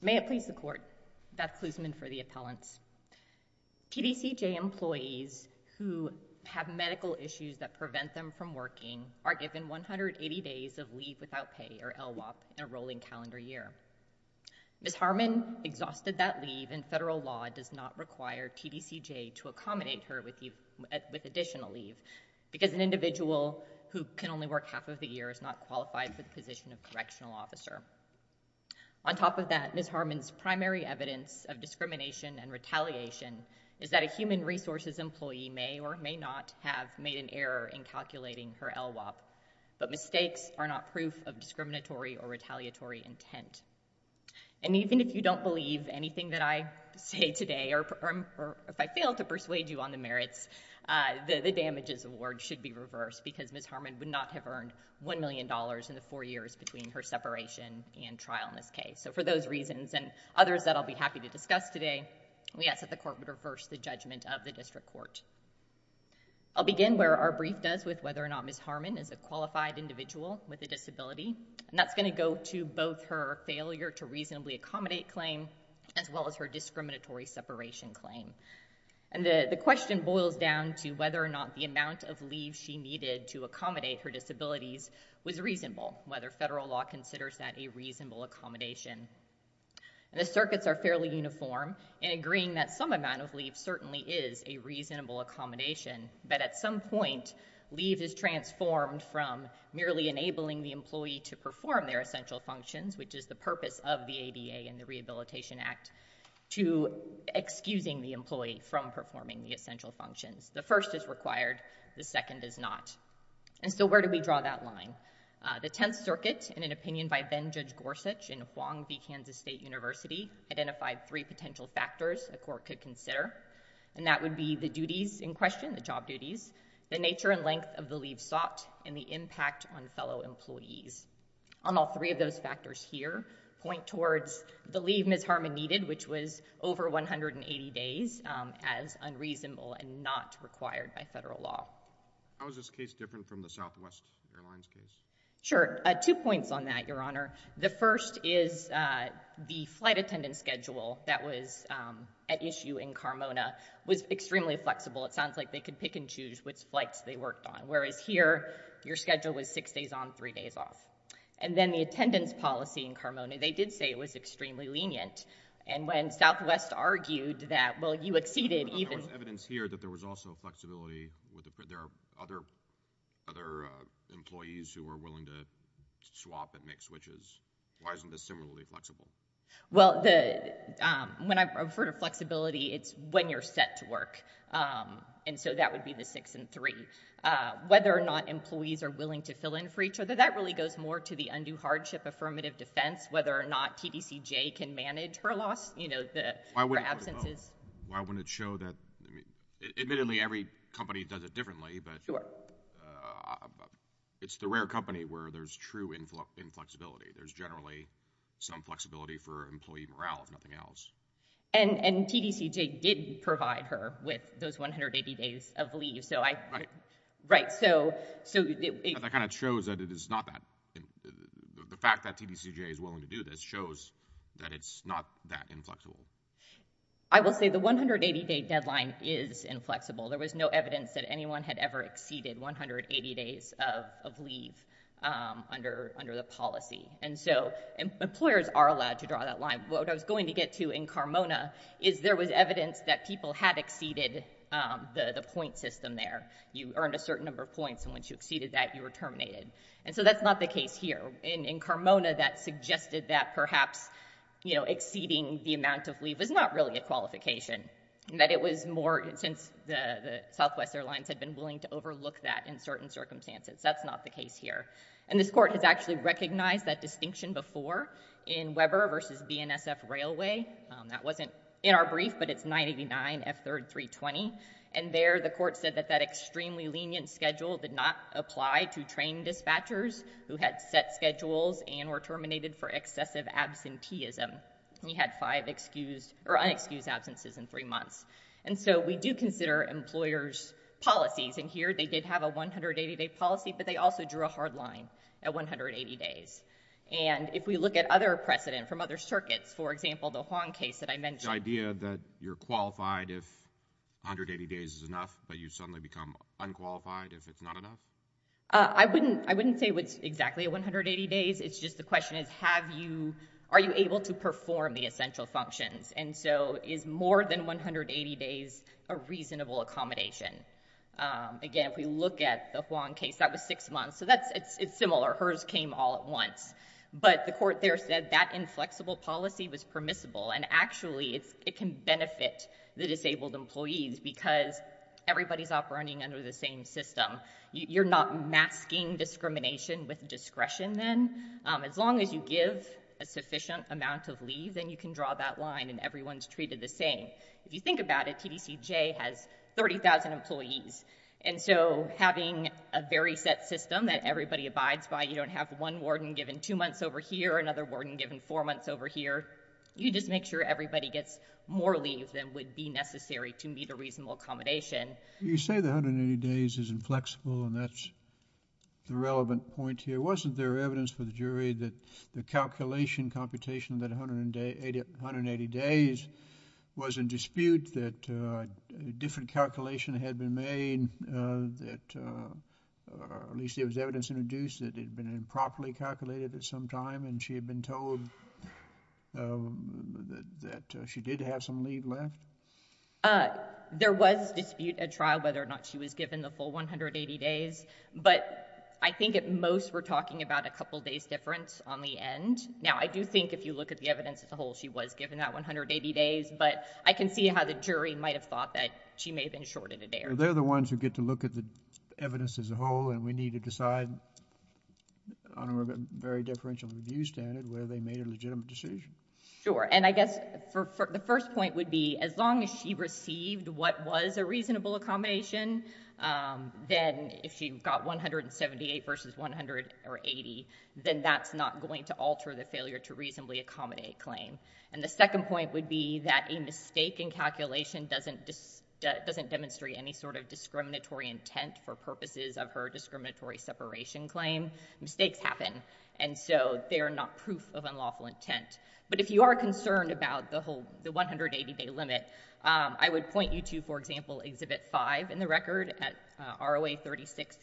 May it please the court. Beth Klusman for the appellants. TDCJ employees who have medical issues that prevent them from working are given 180 days of leave without pay or LWOP in a rolling calendar year. Ms. Harmon exhausted that leave and federal law does not require TDCJ to accommodate her with additional leave because an individual who can only work half of the year is not qualified for the position of correctional officer. On top of that, Ms. Harmon's primary evidence of discrimination and retaliation is that a human resources employee may or may not have made an error in calculating her LWOP, but mistakes are not proof of discriminatory or retaliatory intent. And even if you don't believe anything that I say today, or if I fail to persuade you on the merits, the damages award should be reversed because Ms. Harmon would not have earned $1 million in the four years between her separation and trial in this case. So for those reasons and others that I'll be happy to discuss today, we ask that the court would reverse the judgment of the district court. I'll begin where our brief does with whether or not Ms. Harmon is a qualified individual with a disability, and that's going to go to both her failure to reasonably accommodate claim as well as her discriminatory separation claim. And the question boils down to whether or not the amount of leave she needed to accommodate her disabilities was reasonable, whether federal law considers that a reasonable accommodation. And the circuits are fairly uniform in agreeing that some amount of leave certainly is a reasonable accommodation, but at some point leave is transformed from merely enabling the employee to perform their essential functions, which is the purpose of the ADA and the Rehabilitation Act, to excusing the employee from performing the essential functions. The first is required, the second is not. And so where do we draw that line? The Tenth Circuit, in an opinion by then-Judge Gorsuch in Huang v. Kansas State University, identified three potential factors a court could consider, and that would be the duties in question, the job duties, the nature and length of the employees. On all three of those factors here, point towards the leave Ms. Harmon needed, which was over 180 days, as unreasonable and not required by federal law. How is this case different from the Southwest Airlines case? Sure. Two points on that, Your Honor. The first is the flight attendant schedule that was at issue in Carmona was extremely flexible. It sounds like they could pick and choose which flights they worked on. Whereas here, your schedule was six days on, three days off. And then the attendance policy in Carmona, they did say it was extremely lenient. And when Southwest argued that, well, you exceeded even— But there was evidence here that there was also flexibility with the—there are other employees who were willing to swap and make switches. Why isn't this similarly flexible? Well, the—when I refer to flexibility, it's when you're set to work. And so that would be the six and three. Whether or not employees are willing to fill in for each other, that really goes more to the undue hardship affirmative defense, whether or not TDCJ can manage her loss, you know, the— Why wouldn't it show that—admittedly, every company does it differently, but— Sure. It's the rare company where there's true inflexibility. There's generally some flexibility for employee morale, if nothing else. And TDCJ did provide her with those 180 days of leave, so I— Right. Right. So— That kind of shows that it is not that—the fact that TDCJ is willing to do this shows that it's not that inflexible. I will say the 180-day deadline is inflexible. There was no evidence that anyone had ever exceeded 180 days of leave under the policy. And so employers are allowed to draw that line. What I was going to get to in Carmona is there was evidence that people had exceeded the point system there. You earned a certain number of points, and once you exceeded that, you were terminated. And so that's not the case here. In Carmona, that suggested that perhaps exceeding the amount of leave was not really a qualification, that it was more—since the Southwest Airlines had been willing to overlook that in certain circumstances. That's not the case here. And this Court has actually recognized that distinction before in Weber v. BNSF Railway. That wasn't in our brief, but it's 989 F. 3rd 320. And there, the Court said that that extremely lenient schedule did not apply to trained dispatchers who had set schedules and were terminated for excessive absenteeism. He had five excused—or unexcused absences in three months. And so we do consider employers' policies, and here they did have a 180-day policy, but they also drew a hard line at 180 days. And if we look at other precedent from other circuits, for example, the Huang case that I mentioned— The idea that you're qualified if 180 days is enough, but you suddenly become unqualified if it's not enough? I wouldn't—I wouldn't say it's exactly 180 days. It's just the question is have you—are you able to perform the essential functions? And so is more than 180 days a six months. So that's—it's similar. Hers came all at once. But the Court there said that inflexible policy was permissible, and actually it can benefit the disabled employees because everybody's operating under the same system. You're not masking discrimination with discretion then. As long as you give a sufficient amount of leave, then you can draw that line and everyone's treated the same. If you think about it, TDCJ has 30,000 employees. And so having a very set system that everybody abides by, you don't have one warden given two months over here, another warden given four months over here. You just make sure everybody gets more leave than would be necessary to meet a reasonable accommodation. You say that 180 days isn't flexible, and that's the relevant point here. Wasn't there evidence for the jury that the calculation computation that 180 days was in dispute, that a different calculation had been made, that at least there was evidence introduced that it had been improperly calculated at some time, and she had been told that she did have some leave left? There was dispute at trial whether or not she was given the full 180 days. But I think at most we're talking about a couple days difference on the end. Now, I do think if you look at the evidence as a whole, she was given that 180 days, but I can see how the jury might have thought that she may have been shorted a day or two. They're the ones who get to look at the evidence as a whole, and we need to decide on a very differential review standard whether they made a legitimate decision. Sure. And I guess the first point would be as long as she received what was a reasonable accommodation, then if she got 178 versus 180, then that's not going to alter the failure to reasonably accommodate claim. And the second point would be that a mistake in calculation doesn't demonstrate any sort of discriminatory intent for purposes of her discriminatory separation claim. Mistakes happen, and so they are not proof of unlawful intent. But if you are concerned about the whole 180-day limit, I would point you to, for example, Exhibit 5 in the record at ROA 36.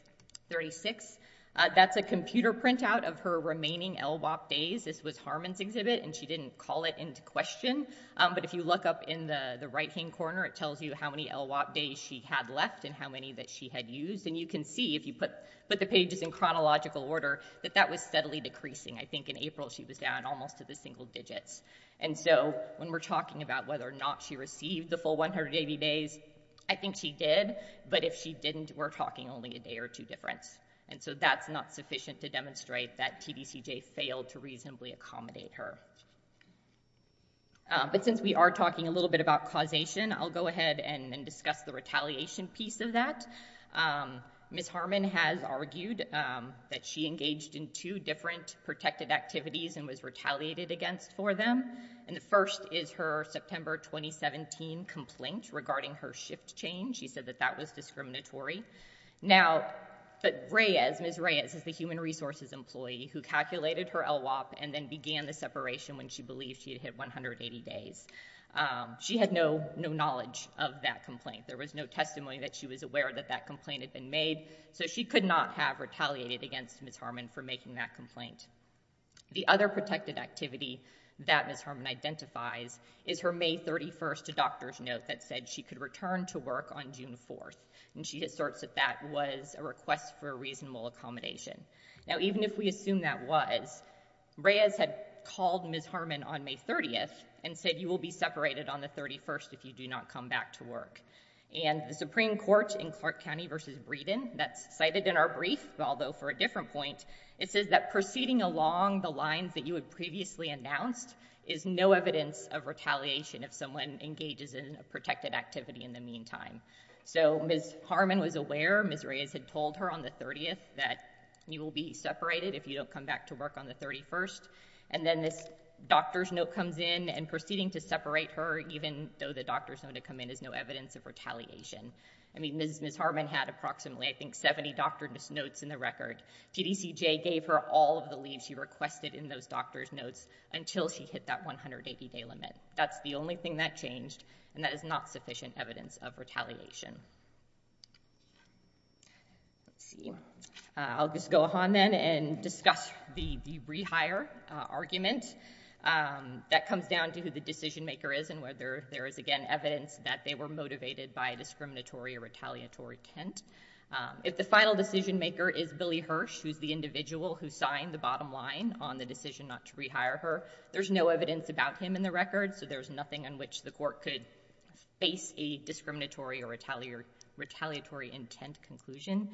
That's a computer printout of her remaining LWOP days. This was Harmon's exhibit, and she didn't call it into question. But if you look up in the right-hand corner, it tells you how many LWOP days she had left and how many that she had used. And you can see, if you put the pages in chronological order, that that was steadily decreasing. I think in April, she was down almost to the single digits. And so when we're talking about whether or not she received the full 180 days, I think she did. But if she didn't, we're talking only a day or two difference. And so that's not sufficient to demonstrate that TDCJ failed to reasonably accommodate her. But since we are talking a little bit about causation, I'll go ahead and discuss the retaliation piece of that. Ms. Harmon has argued that she engaged in two different protected activities and was retaliated against for them. And the first is her September 2017 complaint regarding her shift change. She said that that was discriminatory. Now, but Reyes, Ms. Reyes is the human resources employee who calculated her LWOP and then began the separation when she believed she had hit 180 days. She had no knowledge of that complaint. There was no testimony that she was aware that that complaint had been made. So she could not have retaliated against Ms. Harmon for making that complaint. The other protected activity that Ms. Harmon identifies is her May 31st to doctor's note that said she could return to work on June 4th. And she asserts that that was a request for a reasonable accommodation. Now, even if we assume that was, Reyes had called Ms. Harmon on May 30th and said, you will be separated on the 31st if you do not come back to work. And the Supreme Court in Clark County versus Breeden, that's cited in our brief, although for a different point, it says that proceeding along the lines that you had previously announced is no evidence of retaliation if someone engages in a protected activity in the meantime. So Ms. Harmon was aware Ms. Reyes had told her on the 30th that you will be separated if you don't come back to work on the 31st. And then this doctor's note comes in and proceeding to separate her even though the doctor's note had come in is no evidence of retaliation. I mean, Ms. J gave her all of the leaves she requested in those doctor's notes until she hit that 180 day limit. That's the only thing that changed. And that is not sufficient evidence of retaliation. Let's see. I'll just go on then and discuss the rehire argument. That comes down to who the decision maker is and whether there is, again, evidence that they were motivated by a discriminatory or retaliatory intent. If the final decision maker is Billy Individual, who signed the bottom line on the decision not to rehire her, there's no evidence about him in the record, so there's nothing on which the court could face a discriminatory or retaliatory intent conclusion.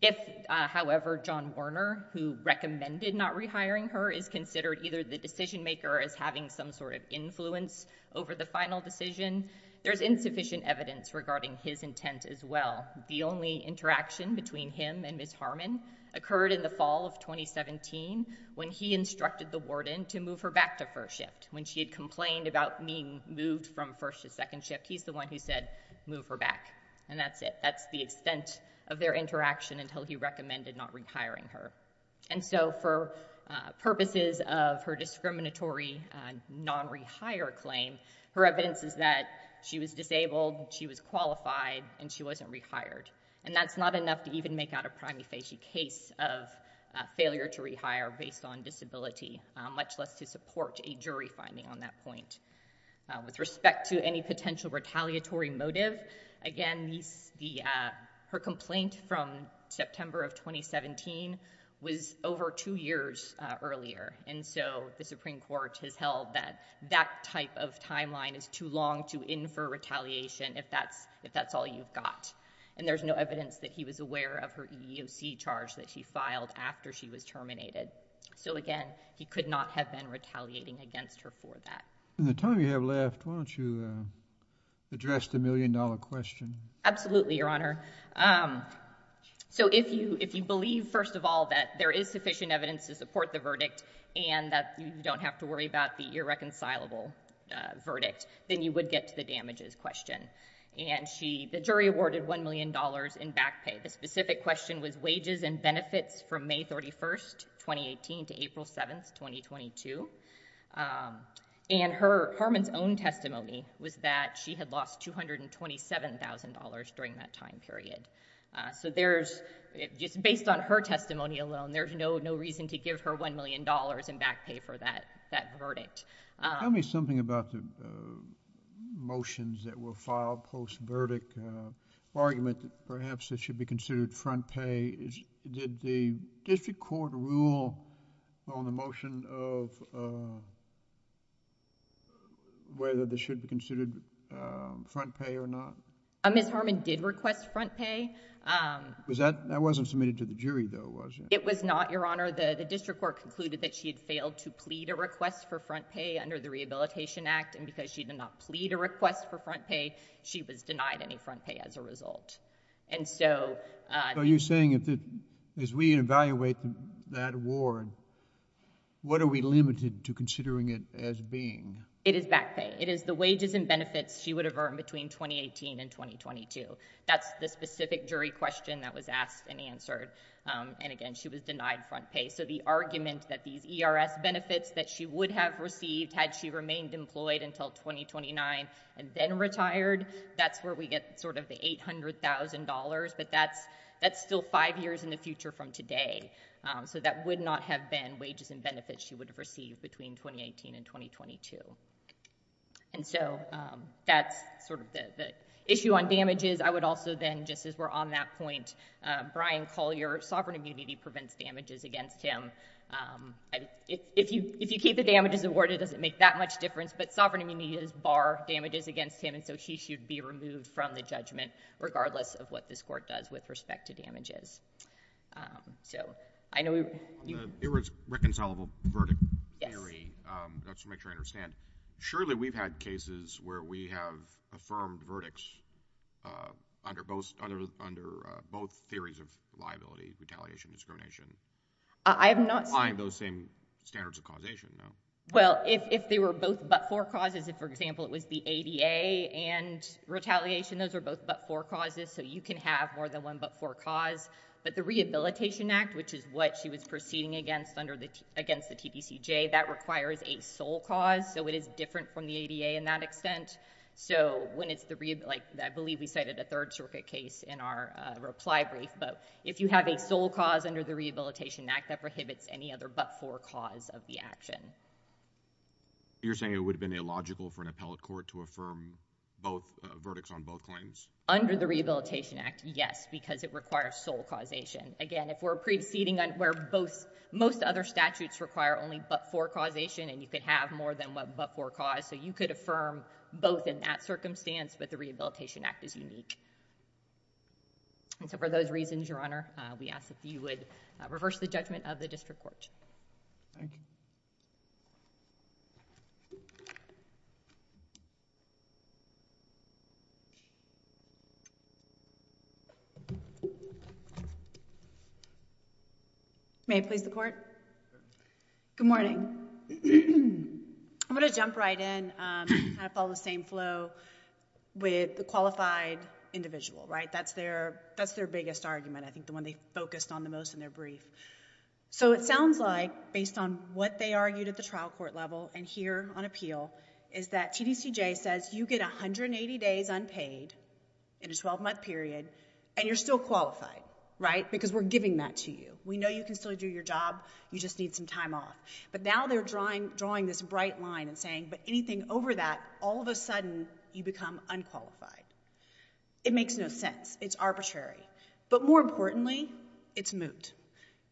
If, however, John Warner, who recommended not rehiring her, is considered either the decision maker as having some sort of influence over the final decision, there's insufficient evidence regarding his intent as well. The only interaction between him and Ms. Harmon occurred in the fall of 2017 when he instructed the warden to move her back to first shift. When she had complained about being moved from first to second shift, he's the one who said, move her back. And that's it. That's the extent of their interaction until he recommended not rehiring her. And so, for purposes of her discriminatory non-rehire claim, her evidence is that she was disabled, she was qualified, and she wasn't rehired. And that's not enough to even make out a prime facie case of failure to rehire based on disability, much less to support a jury finding on that point. With respect to any potential retaliatory motive, again, her complaint from September of 2017 was over two years earlier, and so the Supreme Court has held that that type of timeline is too long to infer retaliation if that's all you've got. And there's no evidence that he was aware of her EEOC charge that she filed after she was terminated. So again, he could not have been retaliating against her for that. In the time you have left, why don't you address the million-dollar question? Absolutely, Your Honor. So if you believe, first of all, that there is sufficient evidence to support the verdict and that you don't have to worry about the irreconcilable verdict, then you would get to the damages question. And the jury awarded $1 million in back pay. The specific question was wages and benefits from May 31, 2018, to April 7, 2022. And Harman's own testimony was that she had lost $227,000 during that time period. So just based on her testimony alone, there's no reason to give her $1 million in back pay for that verdict. Tell me something about the motions that were filed post-verdict, argument that perhaps this should be considered front pay. Did the district court rule on the motion of whether this should be considered front pay or not? Ms. Harman did request front pay. That wasn't submitted to the jury, though, was it? It was not, Your Honor. The district court concluded that she had failed to plead a request for front pay under the Rehabilitation Act. And because she did not plead a request for front pay, she was denied any front pay as a result. So you're saying, as we evaluate that award, what are we limited to considering it as being? It is back pay. It is the wages and benefits she would have earned between 2018 and 2022. That's the specific jury question that was asked and answered. And again, she was denied front pay. So the argument that these ERS benefits that she would have received had she remained employed until 2029 and then retired, that's where we get sort of the $800,000. But that's still five years in the future from today. So that would not have been wages and benefits she would have received between 2018 and 2022. And so that's sort of the issue on damages. I would also then, just as we're on that point, Brian Collier, sovereign immunity prevents damages against him. If you keep the damages awarded, it doesn't make that much difference. But sovereign immunity does bar damages against him, and so she should be removed from the judgment, regardless of what this court does with respect to damages. On the irreconcilable verdict theory, just to make sure I understand, surely we've had cases where we have affirmed verdicts under both theories of liability, retaliation, discrimination. I'm not saying those same standards of causation, no. Well, if they were both but for causes, if, for example, it was the ADA and retaliation, those are both but for causes, so you can have more than one but for cause. But the Rehabilitation Act, which is what she was proceeding against under the, against the TPCJ, that requires a sole cause, so it is different from the ADA in that extent. So when it's the, like, I believe we cited a Third Circuit case in our reply brief, but if you have a sole cause under the Rehabilitation Act, that prohibits any other but for cause of the action. You're saying it would have been illogical for an appellate court to affirm both, a verdicts of both claims? Under the Rehabilitation Act, yes, because it requires sole causation. Again, if we're preceding on where both, most other statutes require only but for causation, and you could have more than one but for cause, so you could affirm both in that circumstance, but the Rehabilitation Act is unique. And so for those reasons, Your Honor, we ask that you would reverse the judgment of the district court. May it please the Court? Good morning. I'm going to jump right in, kind of follow the same flow with the qualified individual, right? That's their, that's their biggest argument, I think the one they focused on the most in their brief. So it sounds like, based on what they argued at the trial court level and here on appeal, is that TDCJ says you get 180 days unpaid, in a 12 month period, and you're still qualified, right? Because we're giving that to you. We know you can still do your job, you just need some time off. But now they're drawing this bright line and saying, but anything over that, all of a sudden you become unqualified. It makes no sense. It's arbitrary. But more importantly, it's moot.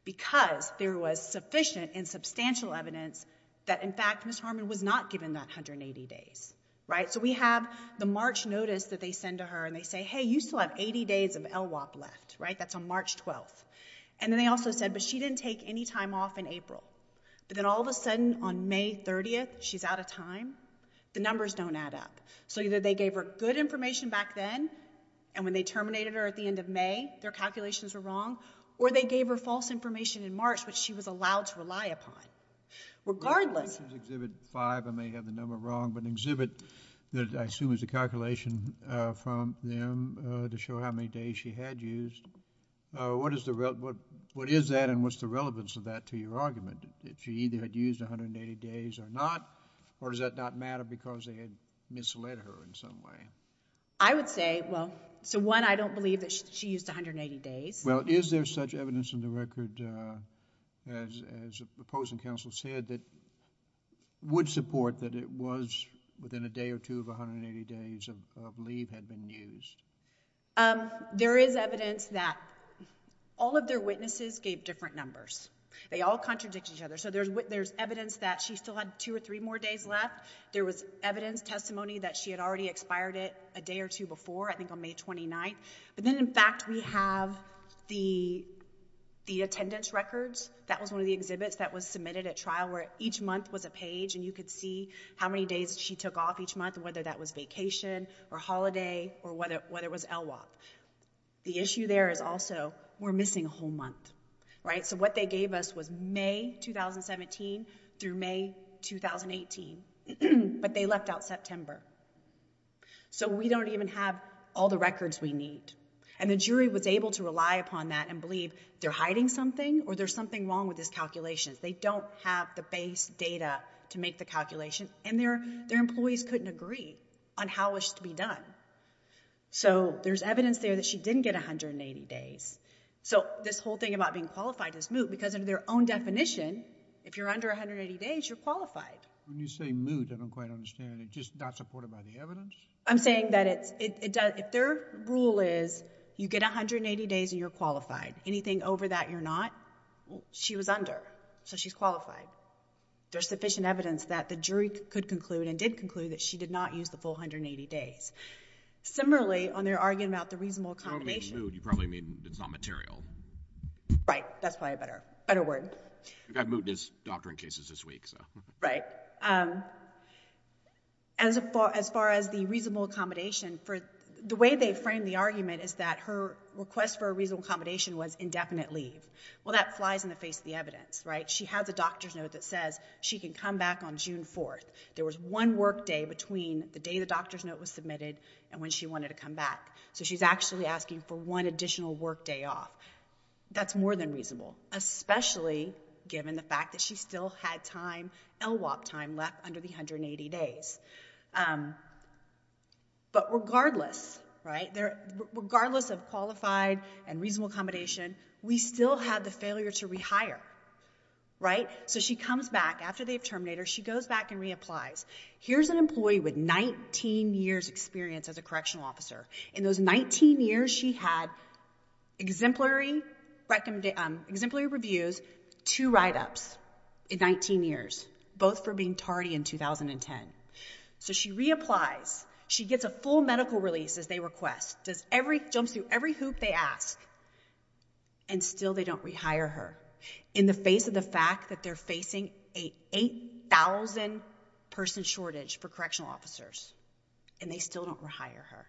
Because there was sufficient and substantial evidence that in fact Ms. Harmon was not given that 180 days, right? So we have the March notice that they send to her and they say, hey, you still have 80 days of LWOP left, right? That's on March 12th. And then they also said, but she didn't take any time off in April. But then all of a sudden on May 30th, she's out of time. The numbers don't add up. So either they gave her good information back then, and when they terminated her at the end of May, their calculations were wrong, or they gave her false information in March, which she was allowed to rely upon. Regardless If this was Exhibit 5, I may have the number wrong, but an exhibit that I assume is a calculation from them to show how many days she had used, what is that and what's the relevance of that to your argument? That she either had used 180 days or not, or does that not matter because they had misled her in some way? I would say, well, so one, I don't believe that she used 180 days. Well, is there such evidence in the record, as the opposing counsel said, that would support that it was within a day or two of 180 days of leave had been used? There is evidence that all of their witnesses gave different numbers. They all contradict each other. So there's evidence that she still had two or three more days left. There was evidence, testimony, that she had already expired it a day or two before, I think on May 29th. But then in fact we have the attendance records. That was one of the exhibits that was submitted at trial where each month was a page and you could see how many days she took off each month, whether that was vacation or holiday or whether it was LWOP. The issue there is also, we're missing a whole month. So what they gave us was May 2017 through May 2018, but they left out September. So we don't even have all the records we need. And the jury was able to rely upon that and believe they're hiding something or there's something wrong with this calculation. They don't have the base data to make the calculation. And their employees couldn't agree on how it should be done. So there's evidence there that she didn't get 180 days. So this whole thing about being qualified as moot, because under their own definition, if you're under 180 days, you're qualified. When you say moot, I don't quite understand. It's just not supported by the evidence? I'm saying that if their rule is you get 180 days and you're qualified, anything over that you're not, she was under. So she's qualified. There's sufficient evidence that the jury could conclude and did conclude that she did not use the full 180 days. Similarly, on their argument about the reasonable accommodation. If you don't mean moot, you probably mean it's not material. Right. That's probably a better word. You've got mootness doctrine cases this week, so. Right. As far as the reasonable accommodation, the way they framed the argument is that her request for a reasonable accommodation was indefinite leave. Well, that flies in the face of the evidence, right? She has a doctor's note that says she can come back on June 4th. There was one workday between the day the doctor's note was submitted and when she wanted to come back. So she's actually asking for one additional workday off. That's more than reasonable, especially given the fact that she still had time, LWOP time, left under the 180 days. But regardless, right, regardless of qualified and reasonable accommodation, we still had the failure to rehire. Right. So she comes back after they've terminated her. She goes back and reapplies. Here's an employee with 19 years experience as a correctional officer. In those 19 years, she had exemplary reviews, two write-ups in 19 years, both for being tardy in 2010. So she reapplies. She gets a full medical release, as they request. Does every, jumps through every hoop they ask. And still they don't rehire her. In the face of the fact that they're facing a 8,000 person shortage for correctional officers. And they still don't rehire her.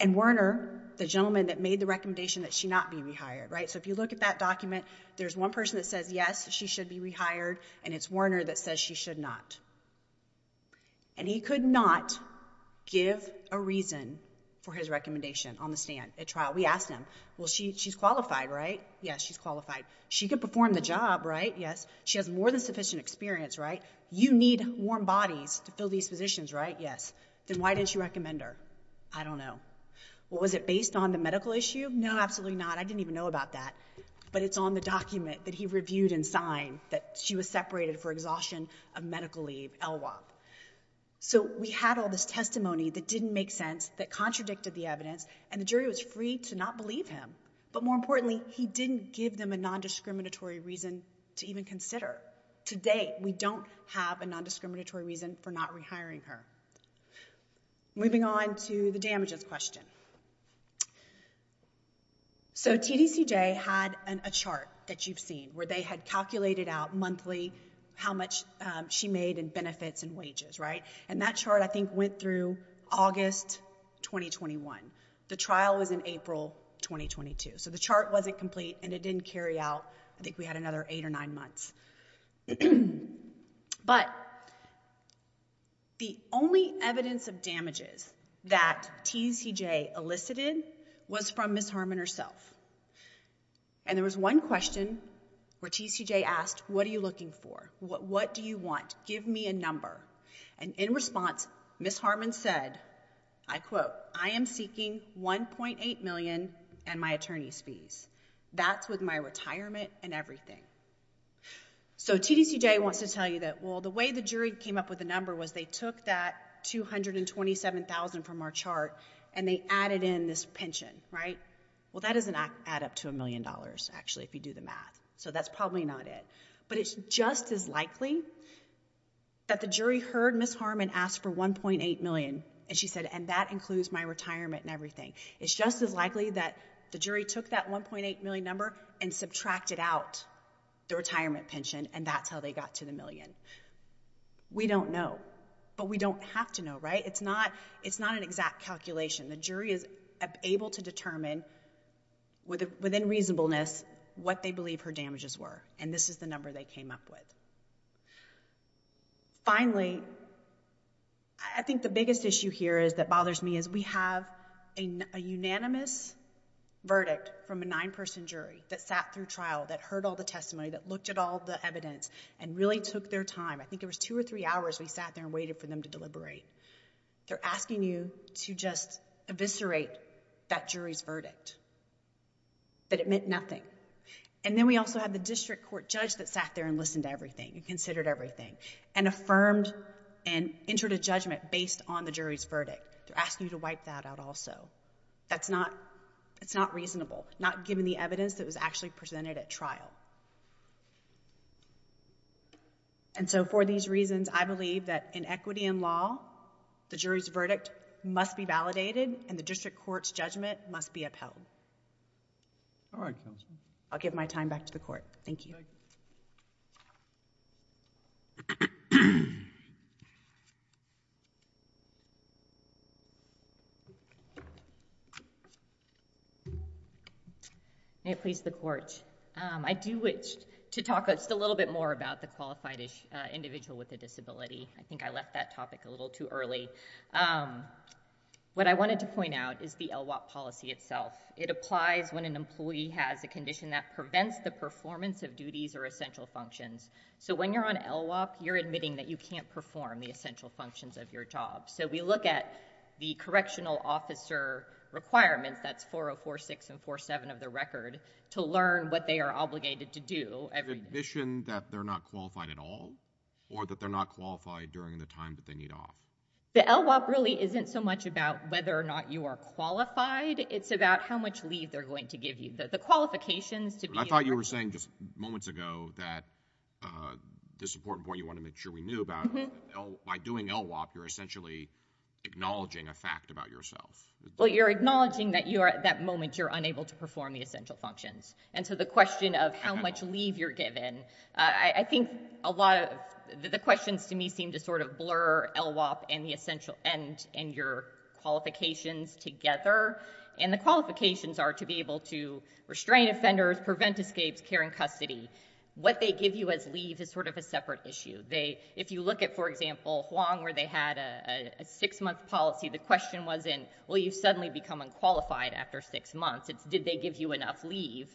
And Werner, the gentleman that made the recommendation that she not be rehired, right? So if you look at that document, there's one person that says, yes, she should be rehired. And it's Werner that says she should not. And he could not give a reason for his recommendation on the stand at trial. We asked him, well, she's qualified, right? Yes, she's qualified. She could perform the job, right? Yes. She has more than sufficient experience, right? You need warm bodies to fill these positions, right? Yes. Then why didn't you recommend her? I don't know. Well, was it based on the medical issue? No, absolutely not. I didn't even know about that. But it's on the document that he reviewed and signed that she was separated for exhaustion of medical leave, LWOP. So we had all this testimony that didn't make sense, that contradicted the evidence. And the jury was free to not believe him. But more importantly, he didn't give them a nondiscriminatory reason to even consider. To date, we don't have a nondiscriminatory reason for not rehiring her. Moving on to the damages question. So TDCJ had a chart that you've seen, right? Where they had calculated out monthly how much she made in benefits and wages, right? And that chart, I think, went through August 2021. The trial was in April 2022. So the chart wasn't complete, and it didn't carry out. I think we had another eight or nine months. But the only evidence of damages that TDCJ elicited was from Ms. Harmon herself. And there was one question where TDCJ asked, what are you looking for? What do you want? Give me a number. And in response, Ms. Harmon said, I quote, I am seeking $1.8 million and my attorney's fees. That's with my retirement and everything. So TDCJ wants to tell you that, well, the way the jury came up with the number was they took that $227,000 from our chart, and they added in this pension, right? Well, that doesn't add up to a million dollars, actually, if you do the math. So that's probably not it. But it's just as likely that the jury heard Ms. Harmon ask for $1.8 million, and she said, and that includes my retirement and everything. It's just as likely that the jury took that $1.8 million number and subtracted out the retirement pension, and that's how they got to the million. We don't know. But we don't have to know, right? It's not an exact calculation. The jury is able to determine within reasonableness what they believe her damages were, and this is the number they came up with. Finally, I think the biggest issue here that bothers me is we have a unanimous verdict from a nine-person jury that sat through trial, that heard all the testimony, that looked at all the evidence, and really took their time. I think it was two or three hours we sat there and waited for them to deliberate. They're asking you to just eviscerate that jury's verdict, that it meant nothing. And then we also have the district court judge that sat there and listened to everything and considered everything and affirmed and entered a judgment based on the jury's verdict. They're asking you to wipe that out also. That's not reasonable, not given the evidence that was actually presented at trial. And so for these reasons, I believe that in equity in law, the jury's verdict must be validated and the district court's judgment must be upheld. All right, Counselor. I'll give my time back to the Court. Thank you. May it please the Court. I do wish to talk just a little bit more about the qualified individual with a disability. I think I left that topic a little too early. What I wanted to point out is the LWOP policy itself. It applies when an employee has a condition that prevents the performance of duties or essential functions. So when you're on LWOP, you're admitting that you can't perform the essential functions of your job. So we look at the correctional officer requirements, that's 4046 and 4047 of the record, to learn what they are obligated to do every day. Admission that they're not qualified at all or that they're not qualified during the time that they need off. The LWOP really isn't so much about whether or not you are qualified. It's about how much leave they're going to give you. The qualifications to be on record. I thought you were saying just moments ago that this important point you wanted to make too about by doing LWOP, you're essentially acknowledging a fact about yourself. Well, you're acknowledging that at that moment you're unable to perform the essential functions. And so the question of how much leave you're given, I think a lot of the questions to me seem to sort of blur LWOP and your qualifications together. And the qualifications are to be able to restrain offenders, prevent escapes, care in custody. What they give you as leave is sort of a separate issue. If you look at, for example, Huang, where they had a six-month policy, the question wasn't, well, you've suddenly become unqualified after six months. It's, did they give you enough leave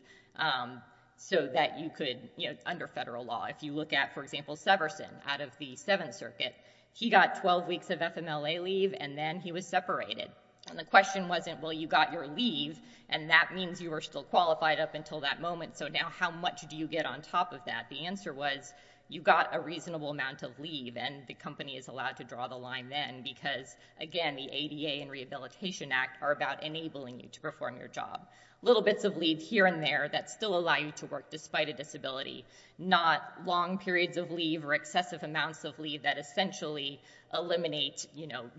so that you could, under federal law. If you look at, for example, Severson out of the Seventh Circuit, he got 12 weeks of FMLA leave and then he was separated. And the question wasn't, well, you got your leave and that means you were still qualified up until that moment, so now how much do you get on top of that? The answer was, you got a reasonable amount of leave and the company is allowed to draw the line then because, again, the ADA and Rehabilitation Act are about enabling you to perform your job. Little bits of leave here and there that still allow you to work despite a disability. Not long periods of leave or excessive amounts of leave that essentially eliminate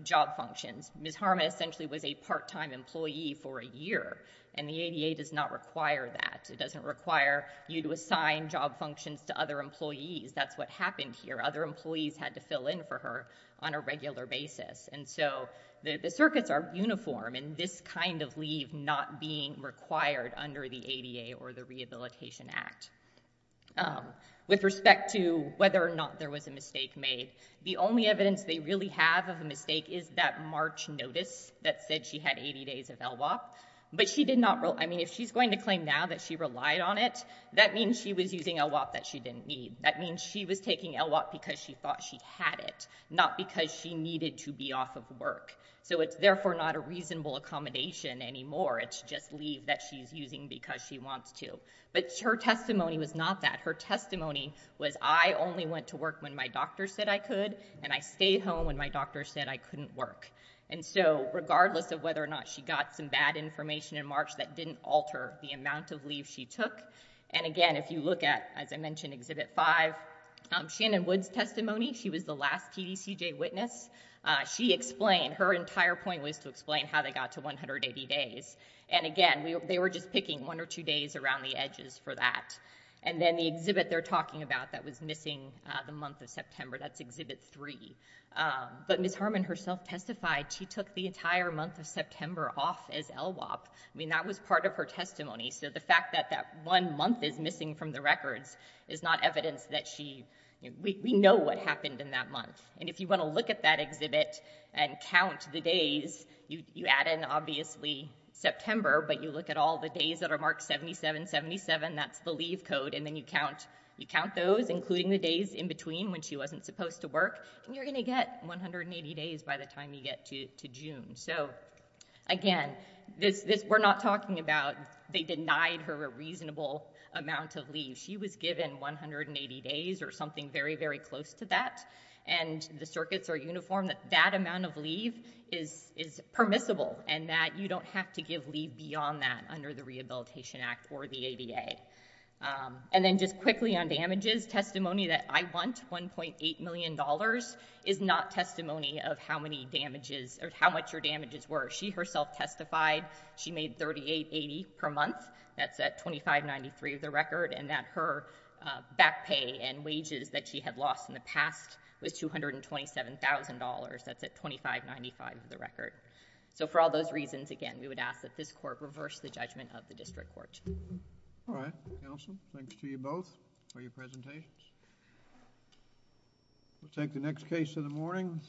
job functions. Ms. Harma essentially was a part-time employee for a year and the ADA does not require that. It doesn't require you to assign job functions to other employees. That's what happened here. Other employees had to fill in for her on a regular basis. And so the circuits are uniform and this kind of leave not being required under the ADA or the Rehabilitation Act. With respect to whether or not there was a mistake made, the only evidence they really have of a mistake is that March notice that said she had 80 days of LWOP. But she did not, I mean, if she's going to claim now that she relied on it, that means she was using LWOP that she didn't need. That means she was taking LWOP because she thought she had it, not because she needed to be off of work. So it's therefore not a reasonable accommodation anymore. It's just leave that she's using because she wants to. But her testimony was not that. Her testimony was, I only went to work when my doctor said I could and I stayed home when my doctor said I couldn't work. And so regardless of whether or not she got some bad information in March, that didn't alter the amount of leave she took. And again, if you look at, as I mentioned, Exhibit 5, Shannon Wood's testimony, she was the last TDCJ witness. She explained, her entire point was to explain how they got to 180 days. And again, they were just picking one or two days around the edges for that. And then the exhibit they're talking about that was missing the month of September, that's Exhibit 3. But Ms. Harmon herself testified she took the entire month of September off as LWOP. I mean, that was part of her testimony. So the fact that that one month is missing from the records is not evidence that she, we know what happened in that month. And if you want to look at that exhibit and count the days, you add in, obviously, September, but you look at all the days that are marked 7777, that's the leave code, and then you count those, including the days in between when she wasn't supposed to work, and you're going to get 180 days by the time you get to June. So again, this, we're not talking about, they denied her a reasonable amount of leave. She was given 180 days or something very, very close to that. And the circuits are uniform that that amount of leave is permissible and that you don't have to give leave beyond that under the Rehabilitation Act or the ADA. And then just quickly on damages, testimony that I want, $1.8 million, is not testimony of how many damages or how much her damages were. She herself testified she made $3880 per month, that's at $2593 of the record, and that her back pay and wages that she had lost in the case. So again, we would ask that this Court reverse the judgment of the District Court. All right. Counsel, thanks to you both for your presentations. We'll take the next case in the morning.